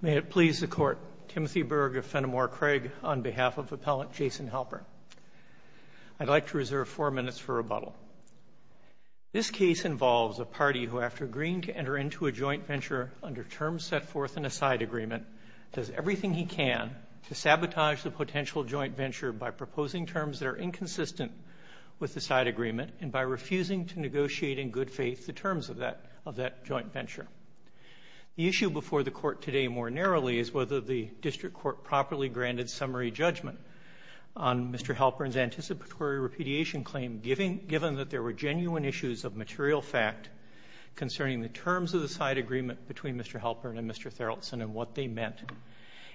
May it please the Court, Timothy Berg of Fenimore Craig on behalf of Appellant Jason Halpern. I'd like to reserve four minutes for rebuttal. This case involves a party who, after agreeing to enter into a joint venture under terms set forth in a side agreement, does everything he can to sabotage the potential joint venture by proposing terms that are inconsistent with the side agreement and by refusing to negotiate in good faith the terms of that joint venture. The issue before the Court today more narrowly is whether the district court properly granted summary judgment on Mr. Halpern's anticipatory repudiation claim, given that there were genuine issues of material fact concerning the terms of the side agreement between Mr. Halpern and Mr. Tharaldson and what they meant,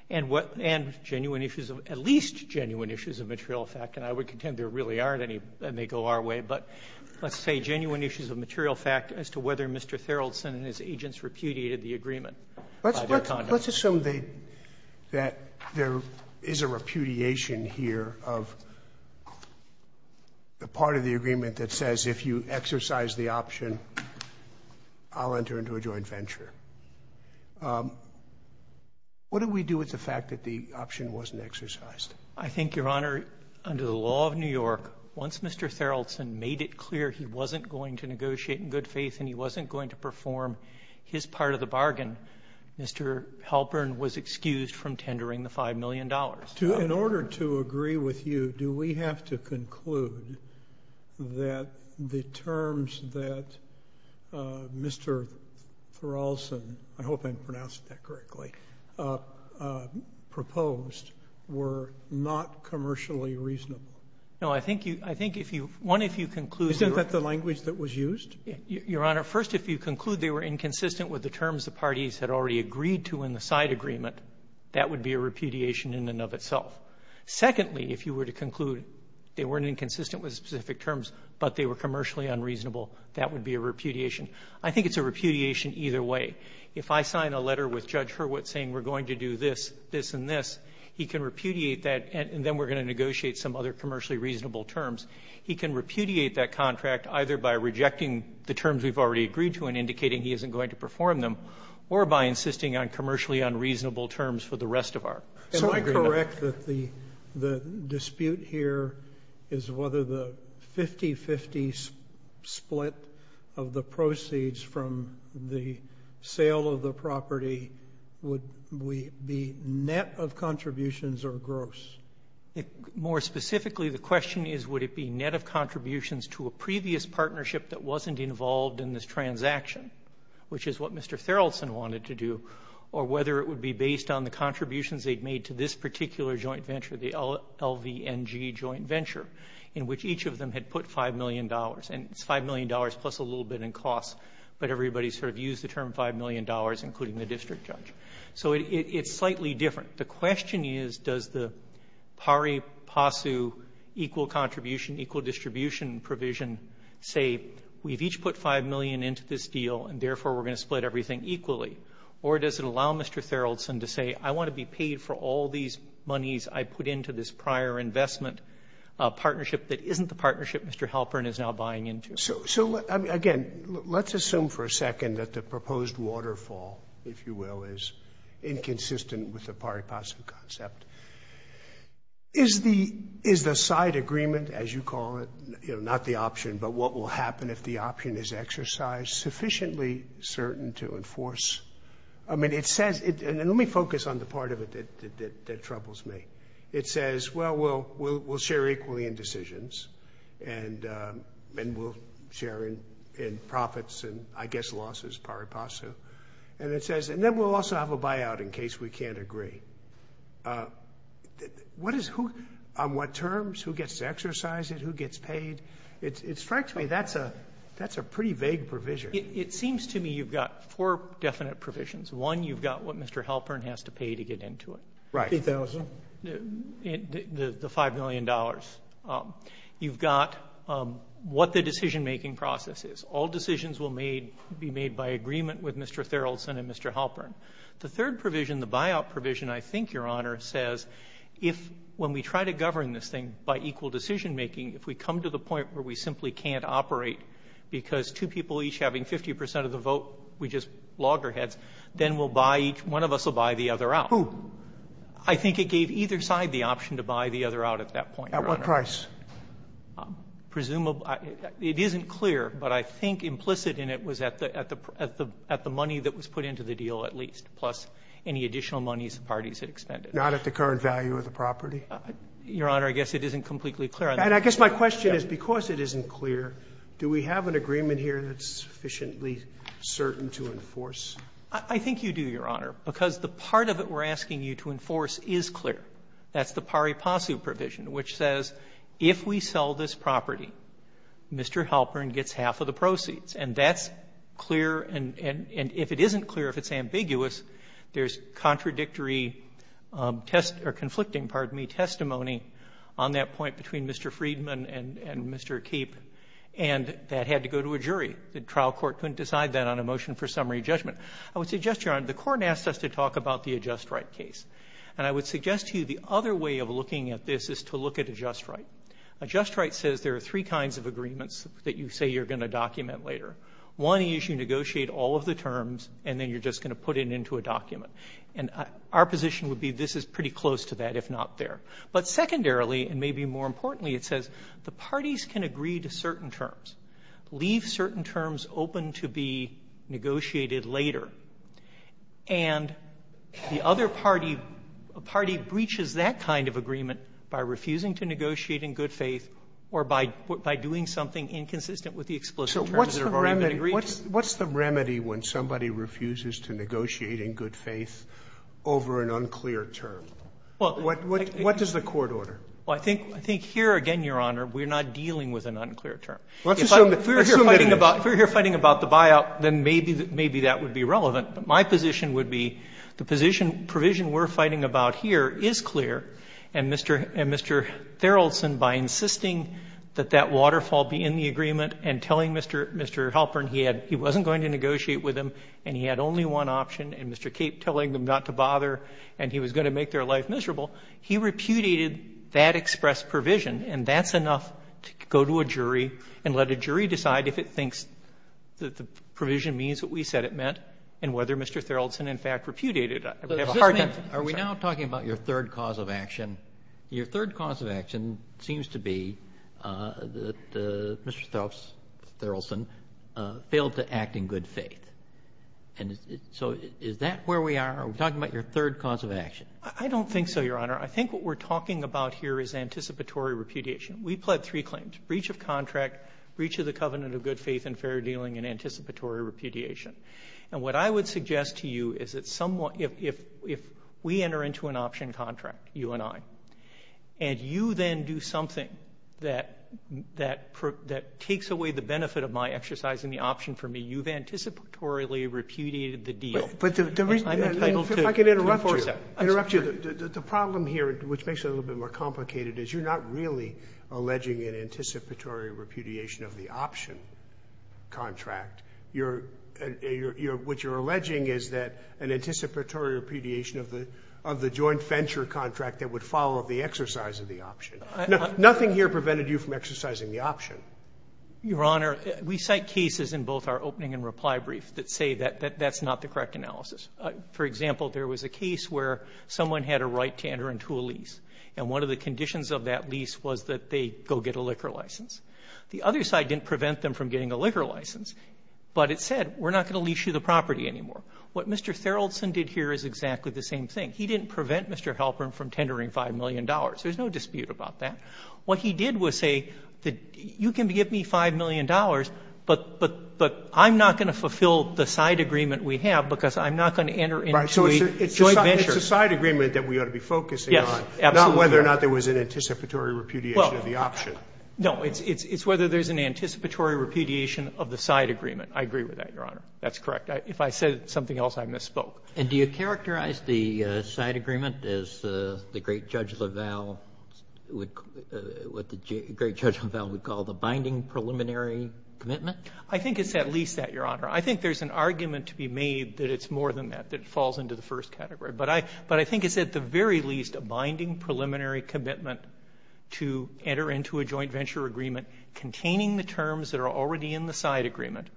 and genuine issues of at least genuine issues of material fact. And I would contend there really aren't any that may go our way, but let's say genuine issues of material fact as to whether Mr. Tharaldson and his agents repudiated the agreement by their conduct. Let's assume that there is a repudiation here of the part of the agreement that says if you exercise the option, I'll enter into a joint venture. What do we do with the fact that the option wasn't exercised? I think, Your Honor, under the law of New York, once Mr. Tharaldson made it clear he wasn't going to negotiate in good faith and he wasn't going to perform his part of the bargain, Mr. Halpern was excused from tendering the $5 million. In order to agree with you, do we have to conclude that the terms that Mr. Tharaldson I hope I'm pronouncing that correctly, proposed were not commercially reasonable? No. I think if you — one, if you conclude your — Isn't that the language that was used? Your Honor, first, if you conclude they were inconsistent with the terms the parties had already agreed to in the side agreement, that would be a repudiation in and of itself. Secondly, if you were to conclude they weren't inconsistent with specific terms, but they were commercially unreasonable, that would be a repudiation. I think it's a repudiation either way. If I sign a letter with Judge Hurwitz saying we're going to do this, this, and this, he can repudiate that and then we're going to negotiate some other commercially reasonable terms. He can repudiate that contract either by rejecting the terms we've already agreed to and indicating he isn't going to perform them or by insisting on commercially unreasonable terms for the rest of our agreement. Am I correct that the dispute here is whether the 50-50 split of the proceeds from the sale of the property would be net of contributions or gross? More specifically, the question is would it be net of contributions to a previous partnership that wasn't involved in this transaction, which is what Mr. Farrellson wanted to do, or whether it would be based on the contributions they'd made to this particular joint venture, the LVNG joint venture, in which each of them had put $5 million, and it's $5 million plus a little bit in costs, but everybody sort of used the term $5 million, including the district judge. So it's slightly different. The question is does the PARI-PASU equal contribution, equal distribution provision say we've each put $5 million into this deal and, therefore, we're going to split everything equally, or does it allow Mr. Farrellson to say I want to be paid for all these monies I put into this prior investment partnership that isn't the partnership Mr. Halpern is now buying into? So, again, let's assume for a second that the proposed waterfall, if you will, is inconsistent with the PARI-PASU concept. Is the side agreement, as you call it, you know, not the option, but what will happen if the option is exercised, sufficiently certain to enforce? I mean, it says — and let me focus on the part of it that troubles me. It says, well, we'll share equally in decisions, and we'll share in profits and, I guess, losses, PARI-PASU. And it says, and then we'll also have a buyout in case we can't agree. What is who on what terms? Who gets to exercise it? Who gets paid? It strikes me that's a pretty vague provision. It seems to me you've got four definite provisions. One, you've got what Mr. Halpern has to pay to get into it. Right. The $5 million. You've got what the decision-making process is. All decisions will be made by agreement with Mr. Therrelson and Mr. Halpern. The third provision, the buyout provision, I think, Your Honor, says if, when we try to govern this thing by equal decision-making, if we come to the point where we simply can't operate because two people each having 50 percent of the vote, we just loggerheads, then we'll buy — one of us will buy the other out. Who? I think it gave either side the option to buy the other out at that point, Your Honor. At what price? Presumably — it isn't clear, but I think implicit in it was at the money that was put into the deal at least, plus any additional monies the parties had expended. Not at the current value of the property? Your Honor, I guess it isn't completely clear. And I guess my question is, because it isn't clear, do we have an agreement here that's sufficiently certain to enforce? I think you do, Your Honor, because the part of it we're asking you to enforce is clear. That's the Pari Passu provision, which says if we sell this property, Mr. Halpern gets half of the proceeds. And that's clear, and if it isn't clear, if it's ambiguous, there's contradictory test — or conflicting, pardon me, testimony on that point between Mr. Friedman The trial court couldn't decide that on a motion for summary judgment. I would suggest, Your Honor, the court asked us to talk about the adjust-right case, and I would suggest to you the other way of looking at this is to look at adjust-right. Adjust-right says there are three kinds of agreements that you say you're going to document later. One is you negotiate all of the terms, and then you're just going to put it into a document. And our position would be this is pretty close to that, if not there. But secondarily, and maybe more importantly, it says the parties can agree to certain terms open to be negotiated later, and the other party, a party breaches that kind of agreement by refusing to negotiate in good faith or by doing something inconsistent with the explicit terms that have already been agreed to. Sotomayor What's the remedy when somebody refuses to negotiate in good faith over an unclear term? What does the court order? Well, I think here, again, Your Honor, we're not dealing with an unclear term. If we're here fighting about the buyout, then maybe that would be relevant. But my position would be the position, provision we're fighting about here is clear, and Mr. Therrelson, by insisting that that waterfall be in the agreement and telling Mr. Halpern he wasn't going to negotiate with him and he had only one option, and Mr. Cape telling them not to bother and he was going to make their life miserable, he repudiated that express provision, and that's enough to go to a jury and let a jury decide if it thinks that the provision means what we said it meant and whether Mr. Therrelson, in fact, repudiated it. I would have a hard time saying that. Roberts, are we now talking about your third cause of action? Your third cause of action seems to be that Mr. Therrelson failed to act in good faith. And so is that where we are? Are we talking about your third cause of action? I don't think so, Your Honor. I think what we're talking about here is anticipatory repudiation. We pled three claims, breach of contract, breach of the covenant of good faith and fair dealing, and anticipatory repudiation. And what I would suggest to you is that someone — if we enter into an option contract, you and I, and you then do something that — that takes away the benefit of my exercising the option for me, you've anticipatorily repudiated the deal. I'm entitled to enforce that. But the reason — if I can interrupt you — interrupt you. The problem here, which makes it a little bit more complicated, is you're not really alleging an anticipatory repudiation of the option contract. You're — what you're alleging is that an anticipatory repudiation of the joint venture contract that would follow the exercise of the option. Nothing here prevented you from exercising the option. Your Honor, we cite cases in both our opening and reply brief that say that that's not the correct analysis. For example, there was a case where someone had a right to enter into a lease. And one of the conditions of that lease was that they go get a liquor license. The other side didn't prevent them from getting a liquor license. But it said, we're not going to lease you the property anymore. What Mr. Theraldson did here is exactly the same thing. He didn't prevent Mr. Halpern from tendering $5 million. There's no dispute about that. What he did was say, you can give me $5 million, but — but — but I'm not going to fulfill the side agreement we have because I'm not going to enter into a joint venture. It's a side agreement that we ought to be focusing on, not whether or not there was an anticipatory repudiation of the option. Well, no, it's — it's whether there's an anticipatory repudiation of the side agreement. I agree with that, Your Honor. That's correct. If I said something else, I misspoke. And do you characterize the side agreement as the great Judge LaValle would — what the great Judge LaValle would call the binding preliminary commitment? I think it's at least that, Your Honor. I think there's an argument to be made that it's more than that, that it falls into the first category. But I — but I think it's at the very least a binding preliminary commitment to enter into a joint venture agreement containing the terms that are already in the side agreement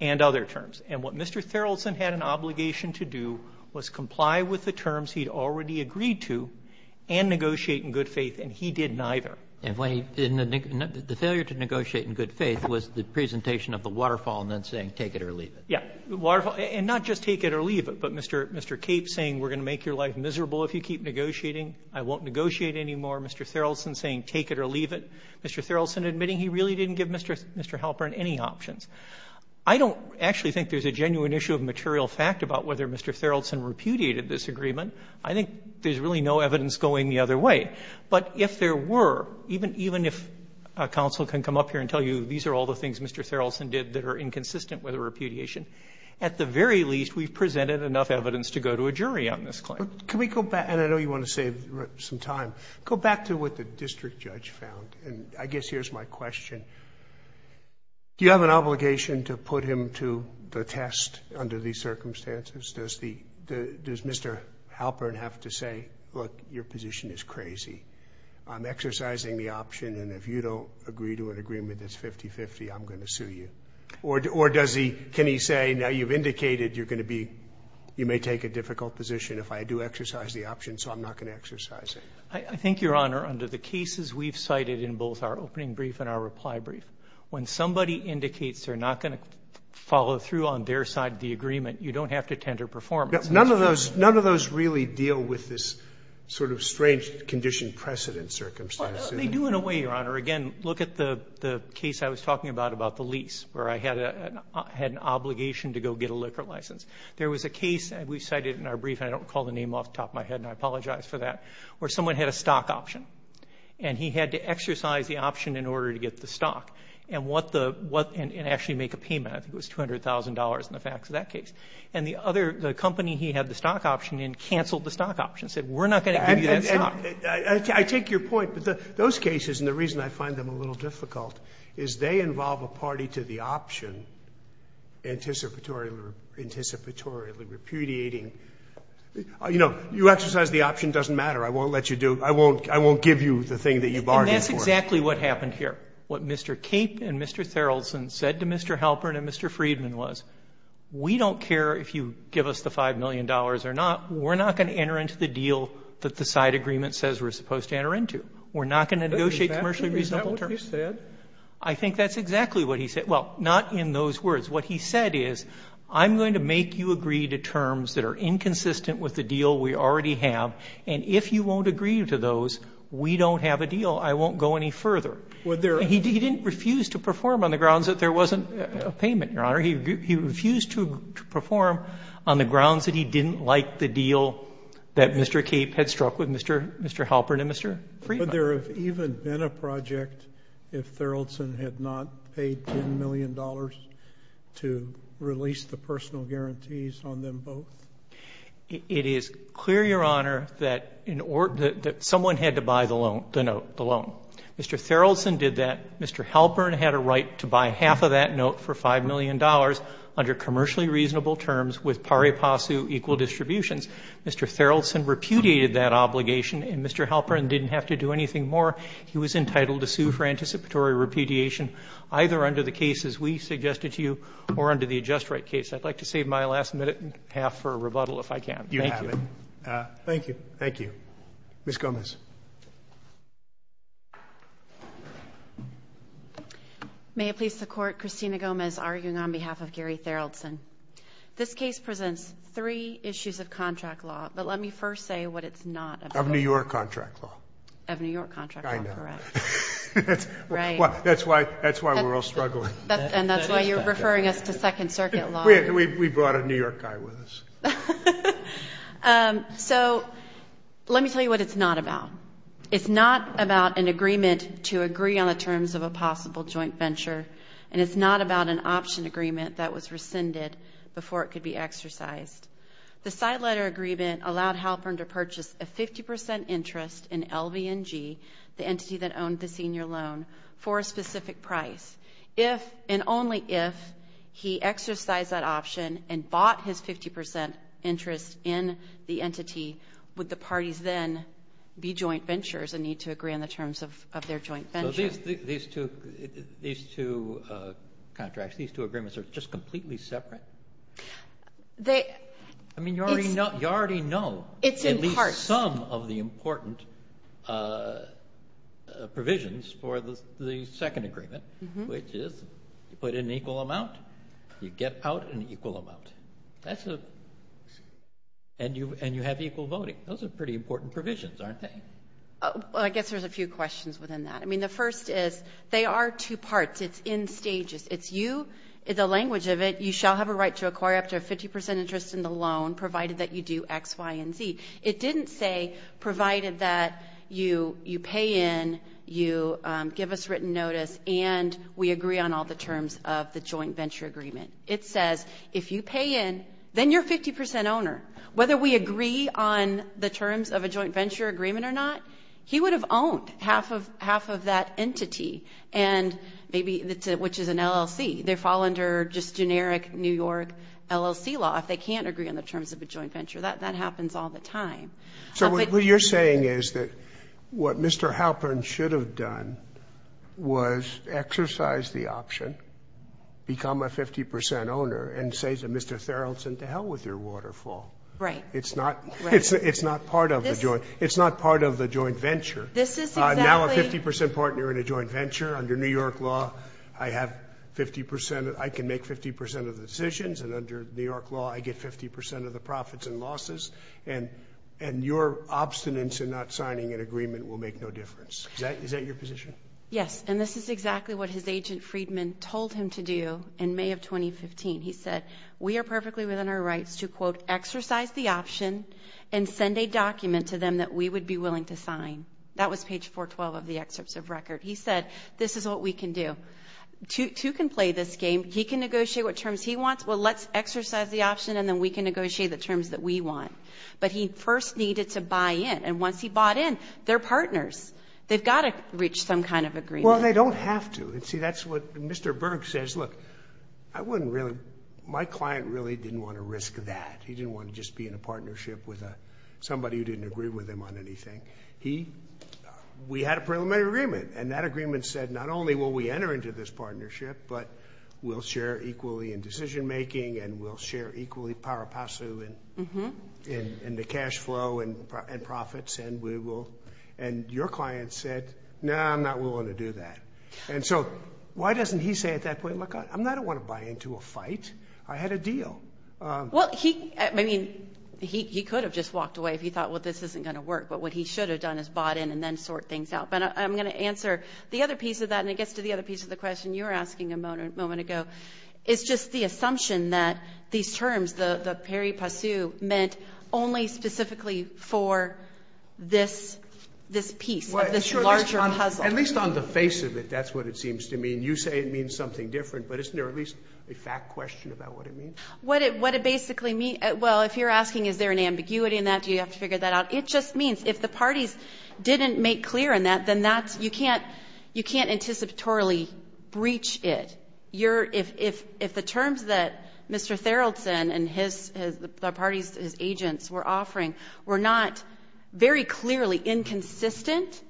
and other terms. And what Mr. Therrelson had an obligation to do was comply with the terms he'd already agreed to and negotiate in good faith, and he did neither. And when he — in the — the failure to negotiate in good faith was the presentation of the waterfall and then saying, take it or leave it. Yeah. The waterfall — and not just take it or leave it, but Mr. Cape saying, we're going to make your life miserable if you keep negotiating, I won't negotiate anymore, Mr. Therrelson saying, take it or leave it, Mr. Therrelson admitting he really didn't give Mr. Halpern any options. I don't actually think there's a genuine issue of material fact about whether Mr. Therrelson repudiated this agreement. I think there's really no evidence going the other way. But if there were, even if a counsel can come up here and tell you these are all the things Mr. Therrelson did that are inconsistent with a repudiation, at the very least, we've presented enough evidence to go to a jury on this claim. Can we go back — and I know you want to save some time — go back to what the district judge found, and I guess here's my question. Do you have an obligation to put him to the test under these circumstances? Does the — does Mr. Halpern have to say, look, your position is crazy, I'm exercising the option, and if you don't agree to an agreement that's 50-50, I'm going to sue you, or does he — can he say, now you've indicated you're going to be — you may take a difficult position if I do exercise the option, so I'm not going to exercise I think, Your Honor, under the cases we've cited in both our opening brief and our reply brief, when somebody indicates they're not going to follow through on their side of the agreement, you don't have to tender performance. None of those — none of those really deal with this sort of strange condition precedent circumstance. They do in a way, Your Honor. Again, look at the case I was talking about, about the lease, where I had an obligation to go get a liquor license. There was a case, and we've cited it in our brief, and I don't recall the name off the top of my head, and I apologize for that, where someone had a stock option, and he had to exercise the option in order to get the stock, and what the — and actually make a payment. I think it was $200,000 in the facts of that case. And the other — the company he had the stock option in canceled the stock option, said we're not going to give you that stock. I take your point, but those cases, and the reason I find them a little difficult, is they involve a party to the option, anticipatorily repudiating — you know, you exercise the option, doesn't matter, I won't let you do — I won't give you the thing that you bargained for. And that's exactly what happened here, what Mr. Cape and Mr. Theraldson said to Mr. Halpern and Mr. Friedman was, we don't care if you give us the $5 million or not, we're not going to enter into the deal that the side agreement says we're supposed to enter into. We're not going to negotiate commercially reasonable terms. Sotomayor, is that what you said? I think that's exactly what he said. Well, not in those words. What he said is, I'm going to make you agree to terms that are inconsistent with the deal we already have, and if you won't agree to those, we don't have a deal. I won't go any further. Would there — He didn't refuse to perform on the grounds that there wasn't a payment, Your Honor. He refused to perform on the grounds that he didn't like the deal that Mr. Cape had struck with Mr. Halpern and Mr. Friedman. Would there have even been a project if Theraldson had not paid $10 million to release the personal guarantees on them both? It is clear, Your Honor, that someone had to buy the loan, the note, the loan. Mr. Theraldson did that. Mr. Halpern had a right to buy half of that note for $5 million under commercially reasonable terms with pari passu equal distributions. Mr. Theraldson repudiated that obligation, and Mr. Halpern didn't have to do anything more. He was entitled to sue for anticipatory repudiation, either under the cases we suggested to you or under the adjust-right case. I'd like to save my last minute and a half for a rebuttal, if I can. Thank you. You have it. Thank you. Thank you. Ms. Gomez. May it please the Court, Christina Gomez arguing on behalf of Gary Theraldson. This case presents three issues of contract law, but let me first say what it's not. Of New York contract law. Of New York contract law, correct. I know. Right. That's why we're all struggling. And that's why you're referring us to Second Circuit law. We brought a New York guy with us. So let me tell you what it's not about. It's not about an agreement to agree on the terms of a possible joint venture, and it's not about an option agreement that was rescinded before it could be exercised. The side letter agreement allowed Halpern to purchase a 50% interest in LVNG, the entity that owned the senior loan, for a specific price. If, and only if, he exercised that option and bought his 50% interest in the entity, would the parties then be joint ventures and need to agree on the terms of their joint venture. So these two contracts, these two agreements are just completely separate? I mean, you already know at least some of the important provisions for the second agreement, which is you put in an equal amount, you get out an equal amount. That's a, and you have equal voting. Those are pretty important provisions, aren't they? Well, I guess there's a few questions within that. I mean, the first is they are two parts. It's in stages. It's you, the language of it, you shall have a right to acquire up to a 50% interest in the loan provided that you do X, Y, and Z. It didn't say provided that you pay in, you give us written notice, and we agree on all the terms of the joint venture agreement. It says if you pay in, then you're a 50% owner. Whether we agree on the terms of a joint venture agreement or not, he would have owned half of that entity, and maybe, which is an LLC. They fall under just generic New York LLC law. If they can't agree on the terms of a joint venture, that happens all the time. So what you're saying is that what Mr. Halpern should have done was exercise the option, become a 50% owner, and say to Mr. Thurlton, to hell with your waterfall. It's not part of the joint venture. Now a 50% partner in a joint venture, under New York law, I can make 50% of the decisions, and under New York law, I get 50% of the profits and losses, and your obstinance in not signing an agreement will make no difference. Is that your position? Yes, and this is exactly what his agent, Freedman, told him to do in May of 2015. He said, we are perfectly within our rights to, quote, exercise the option and send a document to them that we would be willing to sign. That was page 412 of the excerpts of record. He said, this is what we can do. Two can play this game. He can negotiate what terms he wants. Well, let's exercise the option, and then we can negotiate the terms that we want. But he first needed to buy in, and once he bought in, they're partners. They've got to reach some kind of agreement. Well, they don't have to, and see, that's what Mr. Berg says. Look, I wouldn't really, my client really didn't want to risk that. He didn't want to just be in a partnership with somebody who didn't agree with him on anything. He, we had a preliminary agreement, and that agreement said, not only will we enter into this partnership, but we'll share equally in decision making, and we'll share equally, para pasu, in the cash flow and profits, and we will, and your client said, no, I'm not willing to do that. And so, why doesn't he say at that point, look, I don't want to buy into a fight. I had a deal. Well, he, I mean, he could have just walked away if he thought, well, this isn't going to work, but what he should have done is bought in and then sort things out. But I'm going to answer the other piece of that, and it gets to the other piece of the question you were asking a moment ago. It's just the assumption that these terms, the para pasu, meant only specifically for this, this piece of this larger puzzle. At least on the face of it, that's what it seems to mean. You say it means something different, but isn't there at least a fact question about what it means? What it, what it basically means, well, if you're asking, is there an ambiguity in that, do you have to figure that out, it just means if the parties didn't make clear in that, then that's, you can't, you can't anticipatorily breach it. If you're, if, if, if the terms that Mr. Theraldson and his, the parties, his agents were offering were not very clearly inconsistent,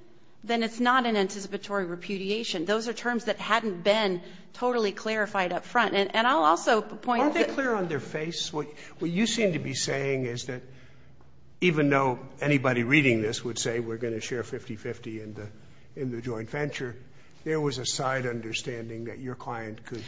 then it's not an anticipatory repudiation. Those are terms that hadn't been totally clarified up front. And, and I'll also point to the other piece of the question. Aren't they clear on their face? What you seem to be saying is that even though anybody reading this would say we're going to share 50-50 in the, in the joint venture, there was a side understanding that your client could,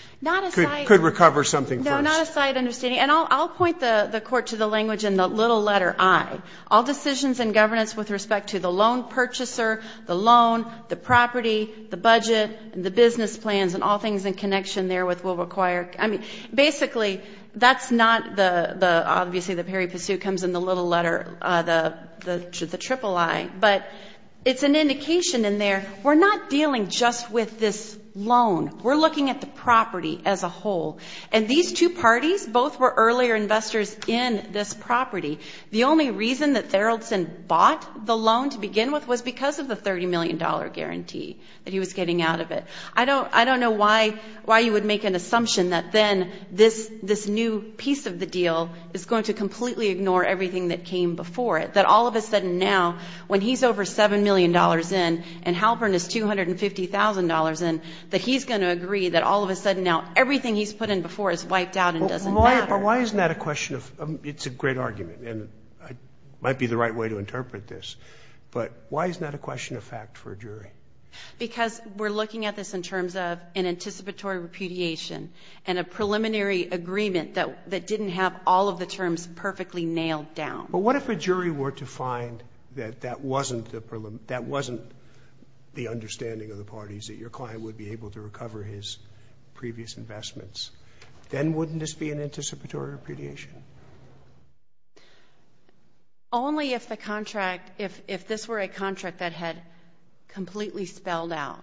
could recover something first. No, not a side understanding. And I'll, I'll point the, the Court to the language in the little letter I. All decisions in governance with respect to the loan purchaser, the loan, the property, the budget, the business plans, and all things in connection there with will require – I mean, basically, that's not the, the, obviously the Perry-Pissu comes in the little letter, the, the, the triple I, but it's an indication in there, we're not dealing just with this loan. We're looking at the property as a whole. And these two parties, both were earlier investors in this property. The only reason that Farreldson bought the loan to begin with was because of the $30 million guarantee that he was getting out of it. I don't, I don't know why, why you would make an assumption that then this, this new piece of the deal is going to completely ignore everything that came before it. That all of a sudden now, when he's over $7 million in and Halpern is $250,000 in, that he's going to agree that all of a sudden now everything he's put in before is wiped out and doesn't matter. But why isn't that a question of, it's a great argument, and it might be the right way to interpret this, but why isn't that a question of fact for a jury? Because we're looking at this in terms of an anticipatory repudiation and a preliminary agreement that, that didn't have all of the terms perfectly nailed down. But what if a jury were to find that that wasn't the, that wasn't the understanding of the parties, that your client would be able to recover his previous investments? Then wouldn't this be an anticipatory repudiation? Only if the contract, if, if this were a contract that had completely spelled out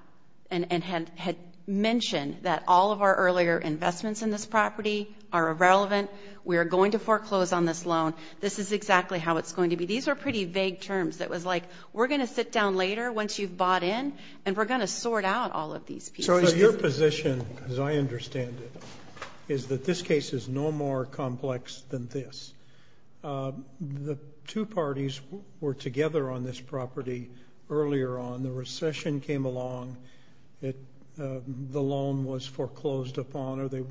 and, and had, had mentioned that all of our earlier investments in this property are irrelevant, we are going to foreclose on this loan. This is exactly how it's going to be. These are pretty vague terms. It was like, we're going to sit down later, once you've bought in, and we're going to sort out all of these pieces. So your position, as I understand it, is that this case is no more complex than this. The two parties were together on this property earlier on. The recession came along. It, the loan was foreclosed upon, or they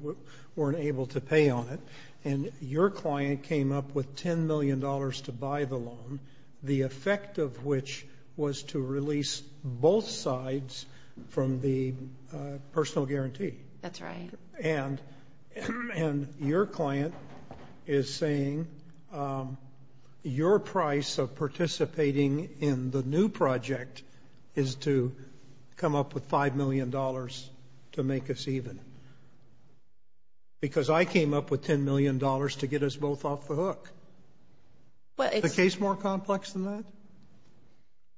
weren't able to pay on it. And your client came up with $10 million to buy the loan, the effect of which was to release both sides from the personal guarantee. That's right. And, and your client is saying your price of participating in the new project is to come up with $5 million to make us even. Because I came up with $10 million to get us both off the hook. But it's. Is the case more complex than that?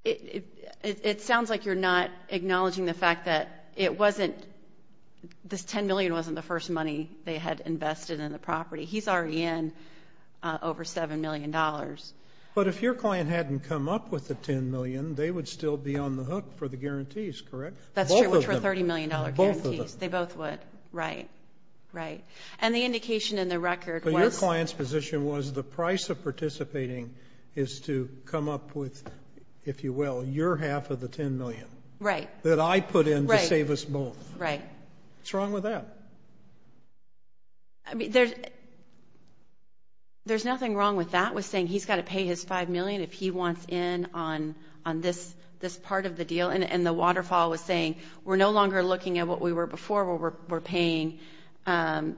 It, it, it, it sounds like you're not acknowledging the fact that it wasn't, this $10 million wasn't the first money they had invested in the property. He's already in over $7 million. But if your client hadn't come up with the $10 million, they would still be on the hook for the guarantees, correct? That's true, which were $30 million guarantees. Both of them. They both would. Right. Right. And the indication in the record was. But your client's position was the price of participating is to come up with, if you will, your half of the $10 million. Right. That I put in to save us both. Right. What's wrong with that? I mean, there's, there's nothing wrong with that, with saying he's got to pay his $5 million if he wants in on, on this, this part of the deal. And, and the waterfall was saying, we're no longer looking at what we were before, where we're, we're paying. Right.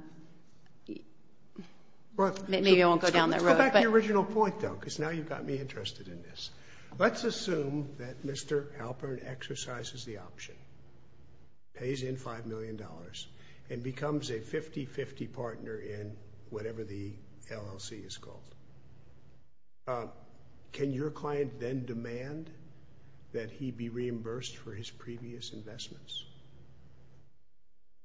Maybe I won't go down that road. Let's go back to the original point, though, because now you've got me interested in this. Let's assume that Mr. Halpern exercises the option, pays in $5 million, and becomes a 50-50 partner in whatever the LLC is called. Can your client then demand that he be reimbursed for his previous investments?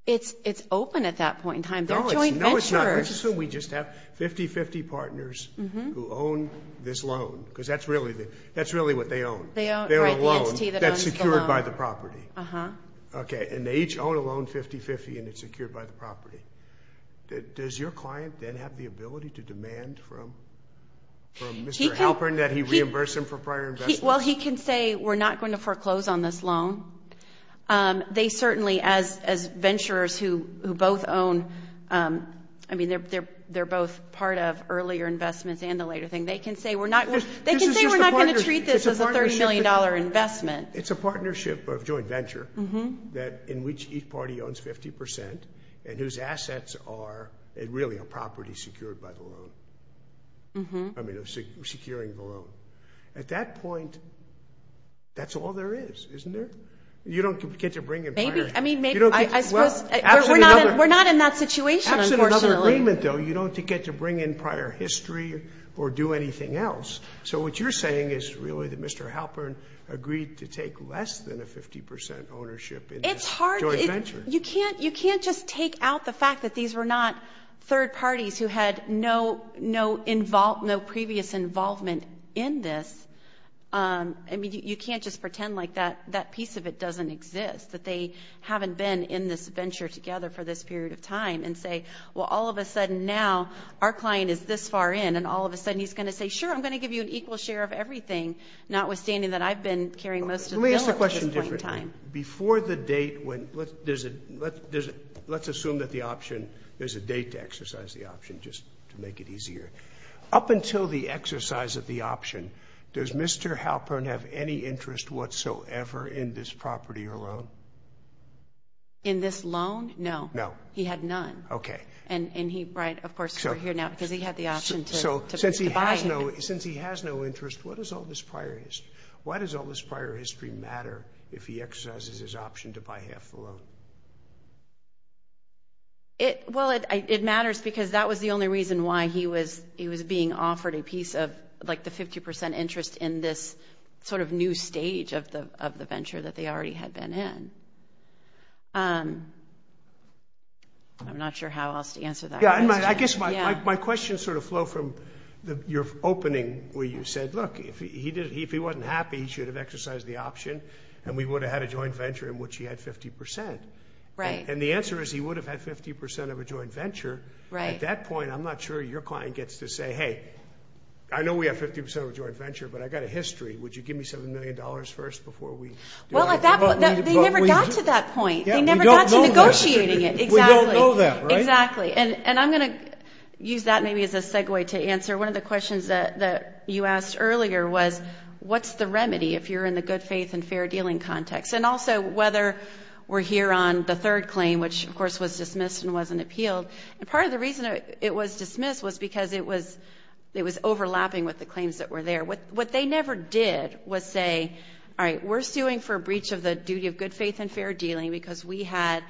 It's, it's open at that point in time. They're joint ventures. No, it's not. It's just so we just have 50-50 partners who own this loan. Because that's really the, that's really what they own. They own, right, the entity that owns the loan. They're a loan that's secured by the property. Uh-huh. Okay. And they each own a loan 50-50 and it's secured by the property. Does your client then have the ability to demand from, from Mr. Halpern that he reimburse him for prior investments? Well, he can say, we're not going to foreclose on this loan. They certainly, as, as venturers who, who both own, I mean, they're, they're, they're both part of earlier investments and the later thing. They can say, we're not, they can say we're not going to treat this as a $30 million investment. It's a partnership of joint venture. Uh-huh. That, in which each party owns 50% and whose assets are really a property secured by the loan. Uh-huh. I mean, securing the loan. At that point, that's all there is, isn't there? You don't get to bring in prior. Maybe, I mean, maybe, I, I suppose, we're not, we're not in that situation, unfortunately. Absolutely another agreement, though. You don't get to bring in prior history or do anything else. So, what you're saying is really that Mr. Halpern agreed to take less than a 50% ownership in this joint venture. It's hard. You can't, you can't just take out the fact that these were not third parties who had no, no involve, no previous involvement in this. Um, I mean, you, you can't just pretend like that, that piece of it doesn't exist. That they haven't been in this venture together for this period of time. And say, well, all of a sudden now, our client is this far in. And all of a sudden, he's going to say, sure, I'm going to give you an equal share of everything. Notwithstanding that I've been carrying most of the bill at this point in time. Before the date, when, let's, there's a, let's assume that the option, there's a date to exercise the option, just to make it easier. Up until the exercise of the option, does Mr. Halpern have any interest whatsoever in this property or loan? In this loan? No. No. He had none. Okay. And, and he, right, of course, we're here now because he had the option to. So since he has no, since he has no interest, what does all this prior history, why does all this prior history matter if he exercises his option to buy half the loan? It, well, it, it matters because that was the only reason why he was, he was being offered a piece of like the 50% interest in this sort of new stage of the, of the venture that they already had been in. Um, I'm not sure how else to answer that. Yeah. And my, I guess my, my, my question sort of flow from the, your opening where you said, look, if he did, if he wasn't happy, he should have exercised the option and we would have had a joint venture in which he had 50%. Right. And the answer is he would have had 50% of a joint venture at that point. I'm not sure your client gets to say, Hey, I know we have 50% of a joint venture, but I got a history. Would you give me $7 million first before we. Well, at that point, they never got to that point. They never got to negotiating it. Exactly. We don't know that, right? Exactly. And, and I'm going to use that maybe as a segue to answer one of the questions that, that you asked earlier was what's the remedy if you're in the good faith and fair dealing context. And also whether we're here on the third claim, which of course was dismissed and wasn't appealed. And part of the reason it was dismissed was because it was, it was overlapping with the claims that were there with what they never did was say, all right, we're suing for a breach of the duty of good faith and fair dealing. Because we had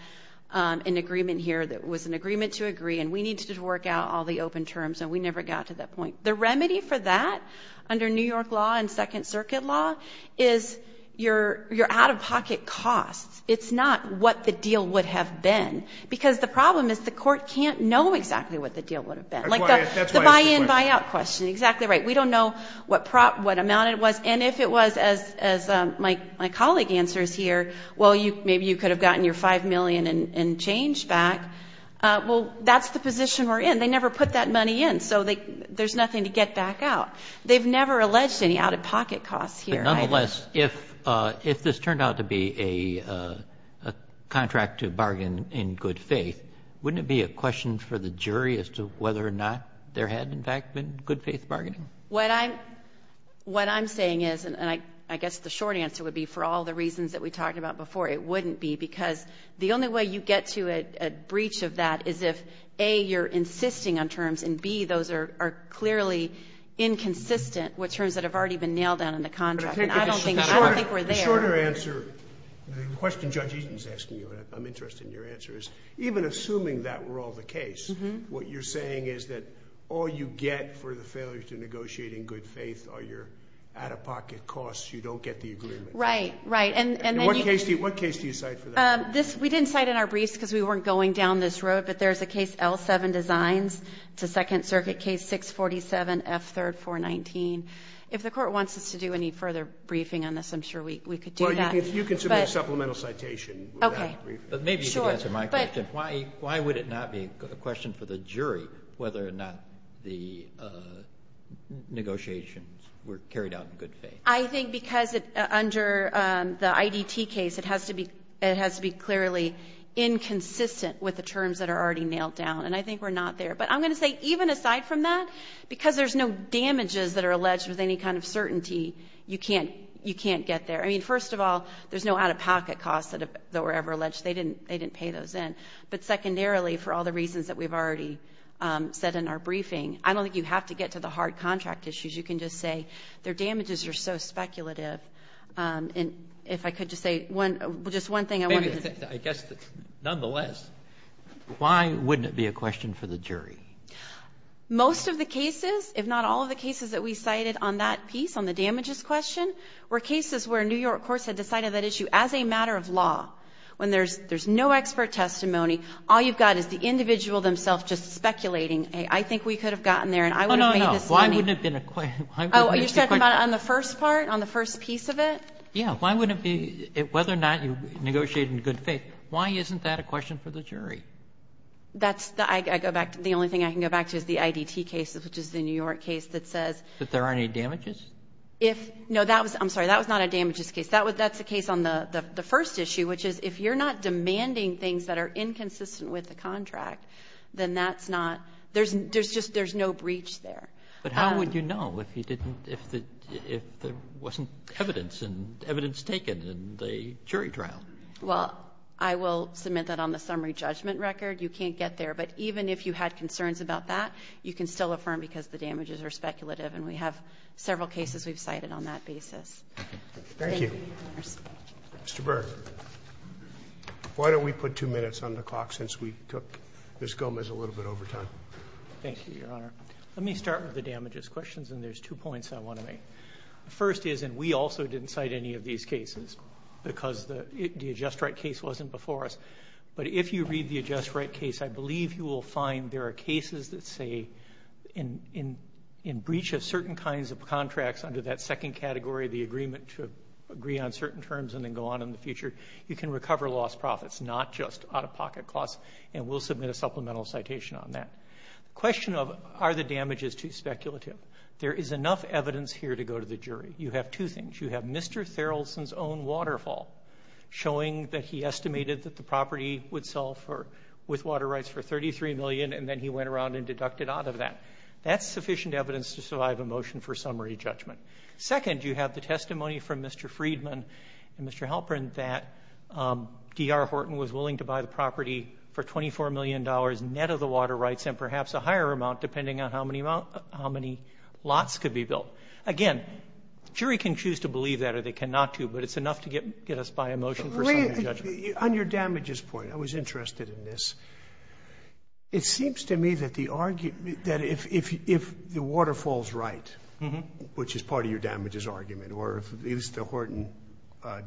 an agreement here that was an agreement to agree and we needed to work out all the open terms. And we never got to that point. The remedy for that under New York law and second circuit law is your, your out of pocket costs. It's not what the deal would have been because the problem is the court can't know exactly what the deal would have been like the buy in, buy out question. Exactly right. We don't know what prop, what amount it was. And if it was as, as my, my colleague answers here, well, you, maybe you could have gotten your 5 million in, in change back. Well, that's the position we're in. They never put that money in. So they, there's nothing to get back out. They've never alleged any out of pocket costs here. Nonetheless, if, if this turned out to be a, a contract to bargain in good faith, wouldn't it be a question for the jury as to whether or not there had in fact been good faith bargaining? What I'm, what I'm saying is, and I, I guess the short answer would be for all the reasons that we talked about before, it wouldn't be because the only way you get to a, a breach of that is if A, you're insisting on terms and B, those are, are clearly inconsistent with terms that have already been nailed down in the contract. And I don't think, I don't think we're there. The shorter answer, the question Judge Eaton's asking you, and I'm interested in your answer, is even assuming that were all the case, what you're saying is that all you get for the failure to negotiate in good faith are your out of pocket costs. You don't get the agreement. Right, right. And, and then what case do you, what case do you cite for that? This, we didn't cite in our briefs because we weren't going down this road, but there's a case L7 designs to second circuit case 647F3R419. If the court wants us to do any further briefing on this, I'm sure we, we could do that. Well, if you can submit a supplemental citation for that briefing. Okay, but maybe you could answer my question. Why, why would it not be a question for the jury whether or not the negotiations were carried out in good faith? I think because it, under the IDT case, it has to be, it has to be clearly inconsistent with the terms that are already nailed down. And I think we're not there. But I'm going to say, even aside from that, because there's no damages that are alleged with any kind of certainty, you can't, you can't get there. I mean, first of all, there's no out of pocket costs that were ever alleged. They didn't, they didn't pay those in. But secondarily, for all the reasons that we've already said in our briefing, I don't think you have to get to the hard contract issues. You can just say their damages are so speculative. And if I could just say one, just one thing I wanted to say. I guess that, nonetheless, why wouldn't it be a question for the jury? Most of the cases, if not all of the cases that we cited on that piece, on the damages question, were cases where New York courts had decided that issue as a matter of law. When there's no expert testimony, all you've got is the individual themselves just speculating, hey, I think we could have gotten there and I would have made this money. Oh, no, no, why wouldn't it have been a question, why wouldn't it have been a question? Oh, you're talking about on the first part, on the first piece of it? Yeah, why wouldn't it be, whether or not you negotiate in good faith, why isn't that a question for the jury? That's the, I go back to, the only thing I can go back to is the IDT case, which is the New York case that says. That there are any damages? If, no, that was, I'm sorry, that was not a damages case. That was, that's the case on the first issue, which is if you're not demanding things that are inconsistent with the contract, then that's not, there's just, there's no breach there. But how would you know if you didn't, if the, if there wasn't evidence and evidence taken in the jury trial? Well, I will submit that on the summary judgment record. You can't get there. But even if you had concerns about that, you can still affirm because the damages are speculative and we have several cases we've cited on that basis. Thank you. Mr. Burke, why don't we put two minutes on the clock since we took Ms. Gomez a little bit over time? Thank you, Your Honor. Let me start with the damages questions and there's two points I want to make. The first is, and we also didn't cite any of these cases because the, the adjust right case wasn't before us. But if you read the adjust right case, I believe you will find there are cases that say in, in, in breach of certain kinds of contracts under that second category, the agreement to agree on certain terms and then go on in the future. You can recover lost profits, not just out-of-pocket costs, and we'll submit a supplemental citation on that. Question of, are the damages too speculative? There is enough evidence here to go to the jury. You have two things. You have Mr. Therrelson's own waterfall showing that he estimated that the property would sell for, with water rights for $33 million and then he went around and deducted out of that. That's sufficient evidence to survive a motion for summary judgment. Second, you have the testimony from Mr. Friedman and Mr. Halperin that D.R. Horton was willing to buy the property for $24 million net of the water rights and perhaps a higher amount depending on how many, how many lots could be built. Again, jury can choose to believe that or they cannot do, but it's enough to get, get us by a motion for summary judgment. On your damages point, I was interested in this. It seems to me that the argument, that if, if, if the waterfall's right, which is part of your damages argument, or if at least the Horton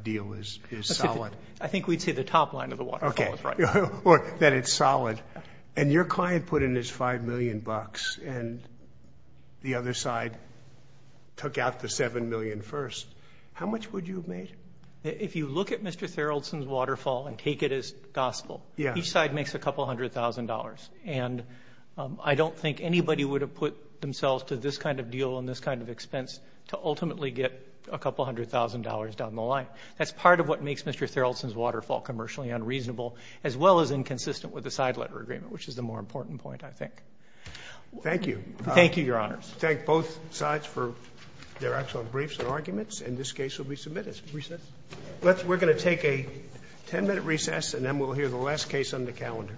deal is, is solid. I think we'd say the top line of the waterfall is right. Or that it's solid and your client put in his $5 million and the other side took out the $7 million first, how much would you have made? If you look at Mr. Therrelson's waterfall and take it as gospel, each side makes a couple hundred thousand dollars. And I don't think anybody would have put themselves to this kind of deal and this kind of expense to ultimately get a couple hundred thousand dollars down the line. That's part of what makes Mr. Therrelson's waterfall commercially unreasonable, as well as inconsistent with the side letter agreement, which is the more important point, I think. Thank you. Thank you, Your Honors. Thank both sides for their excellent briefs and arguments, and this case will be submitted. Recess. We're going to take a ten minute recess, and then we'll hear the last case on the calendar.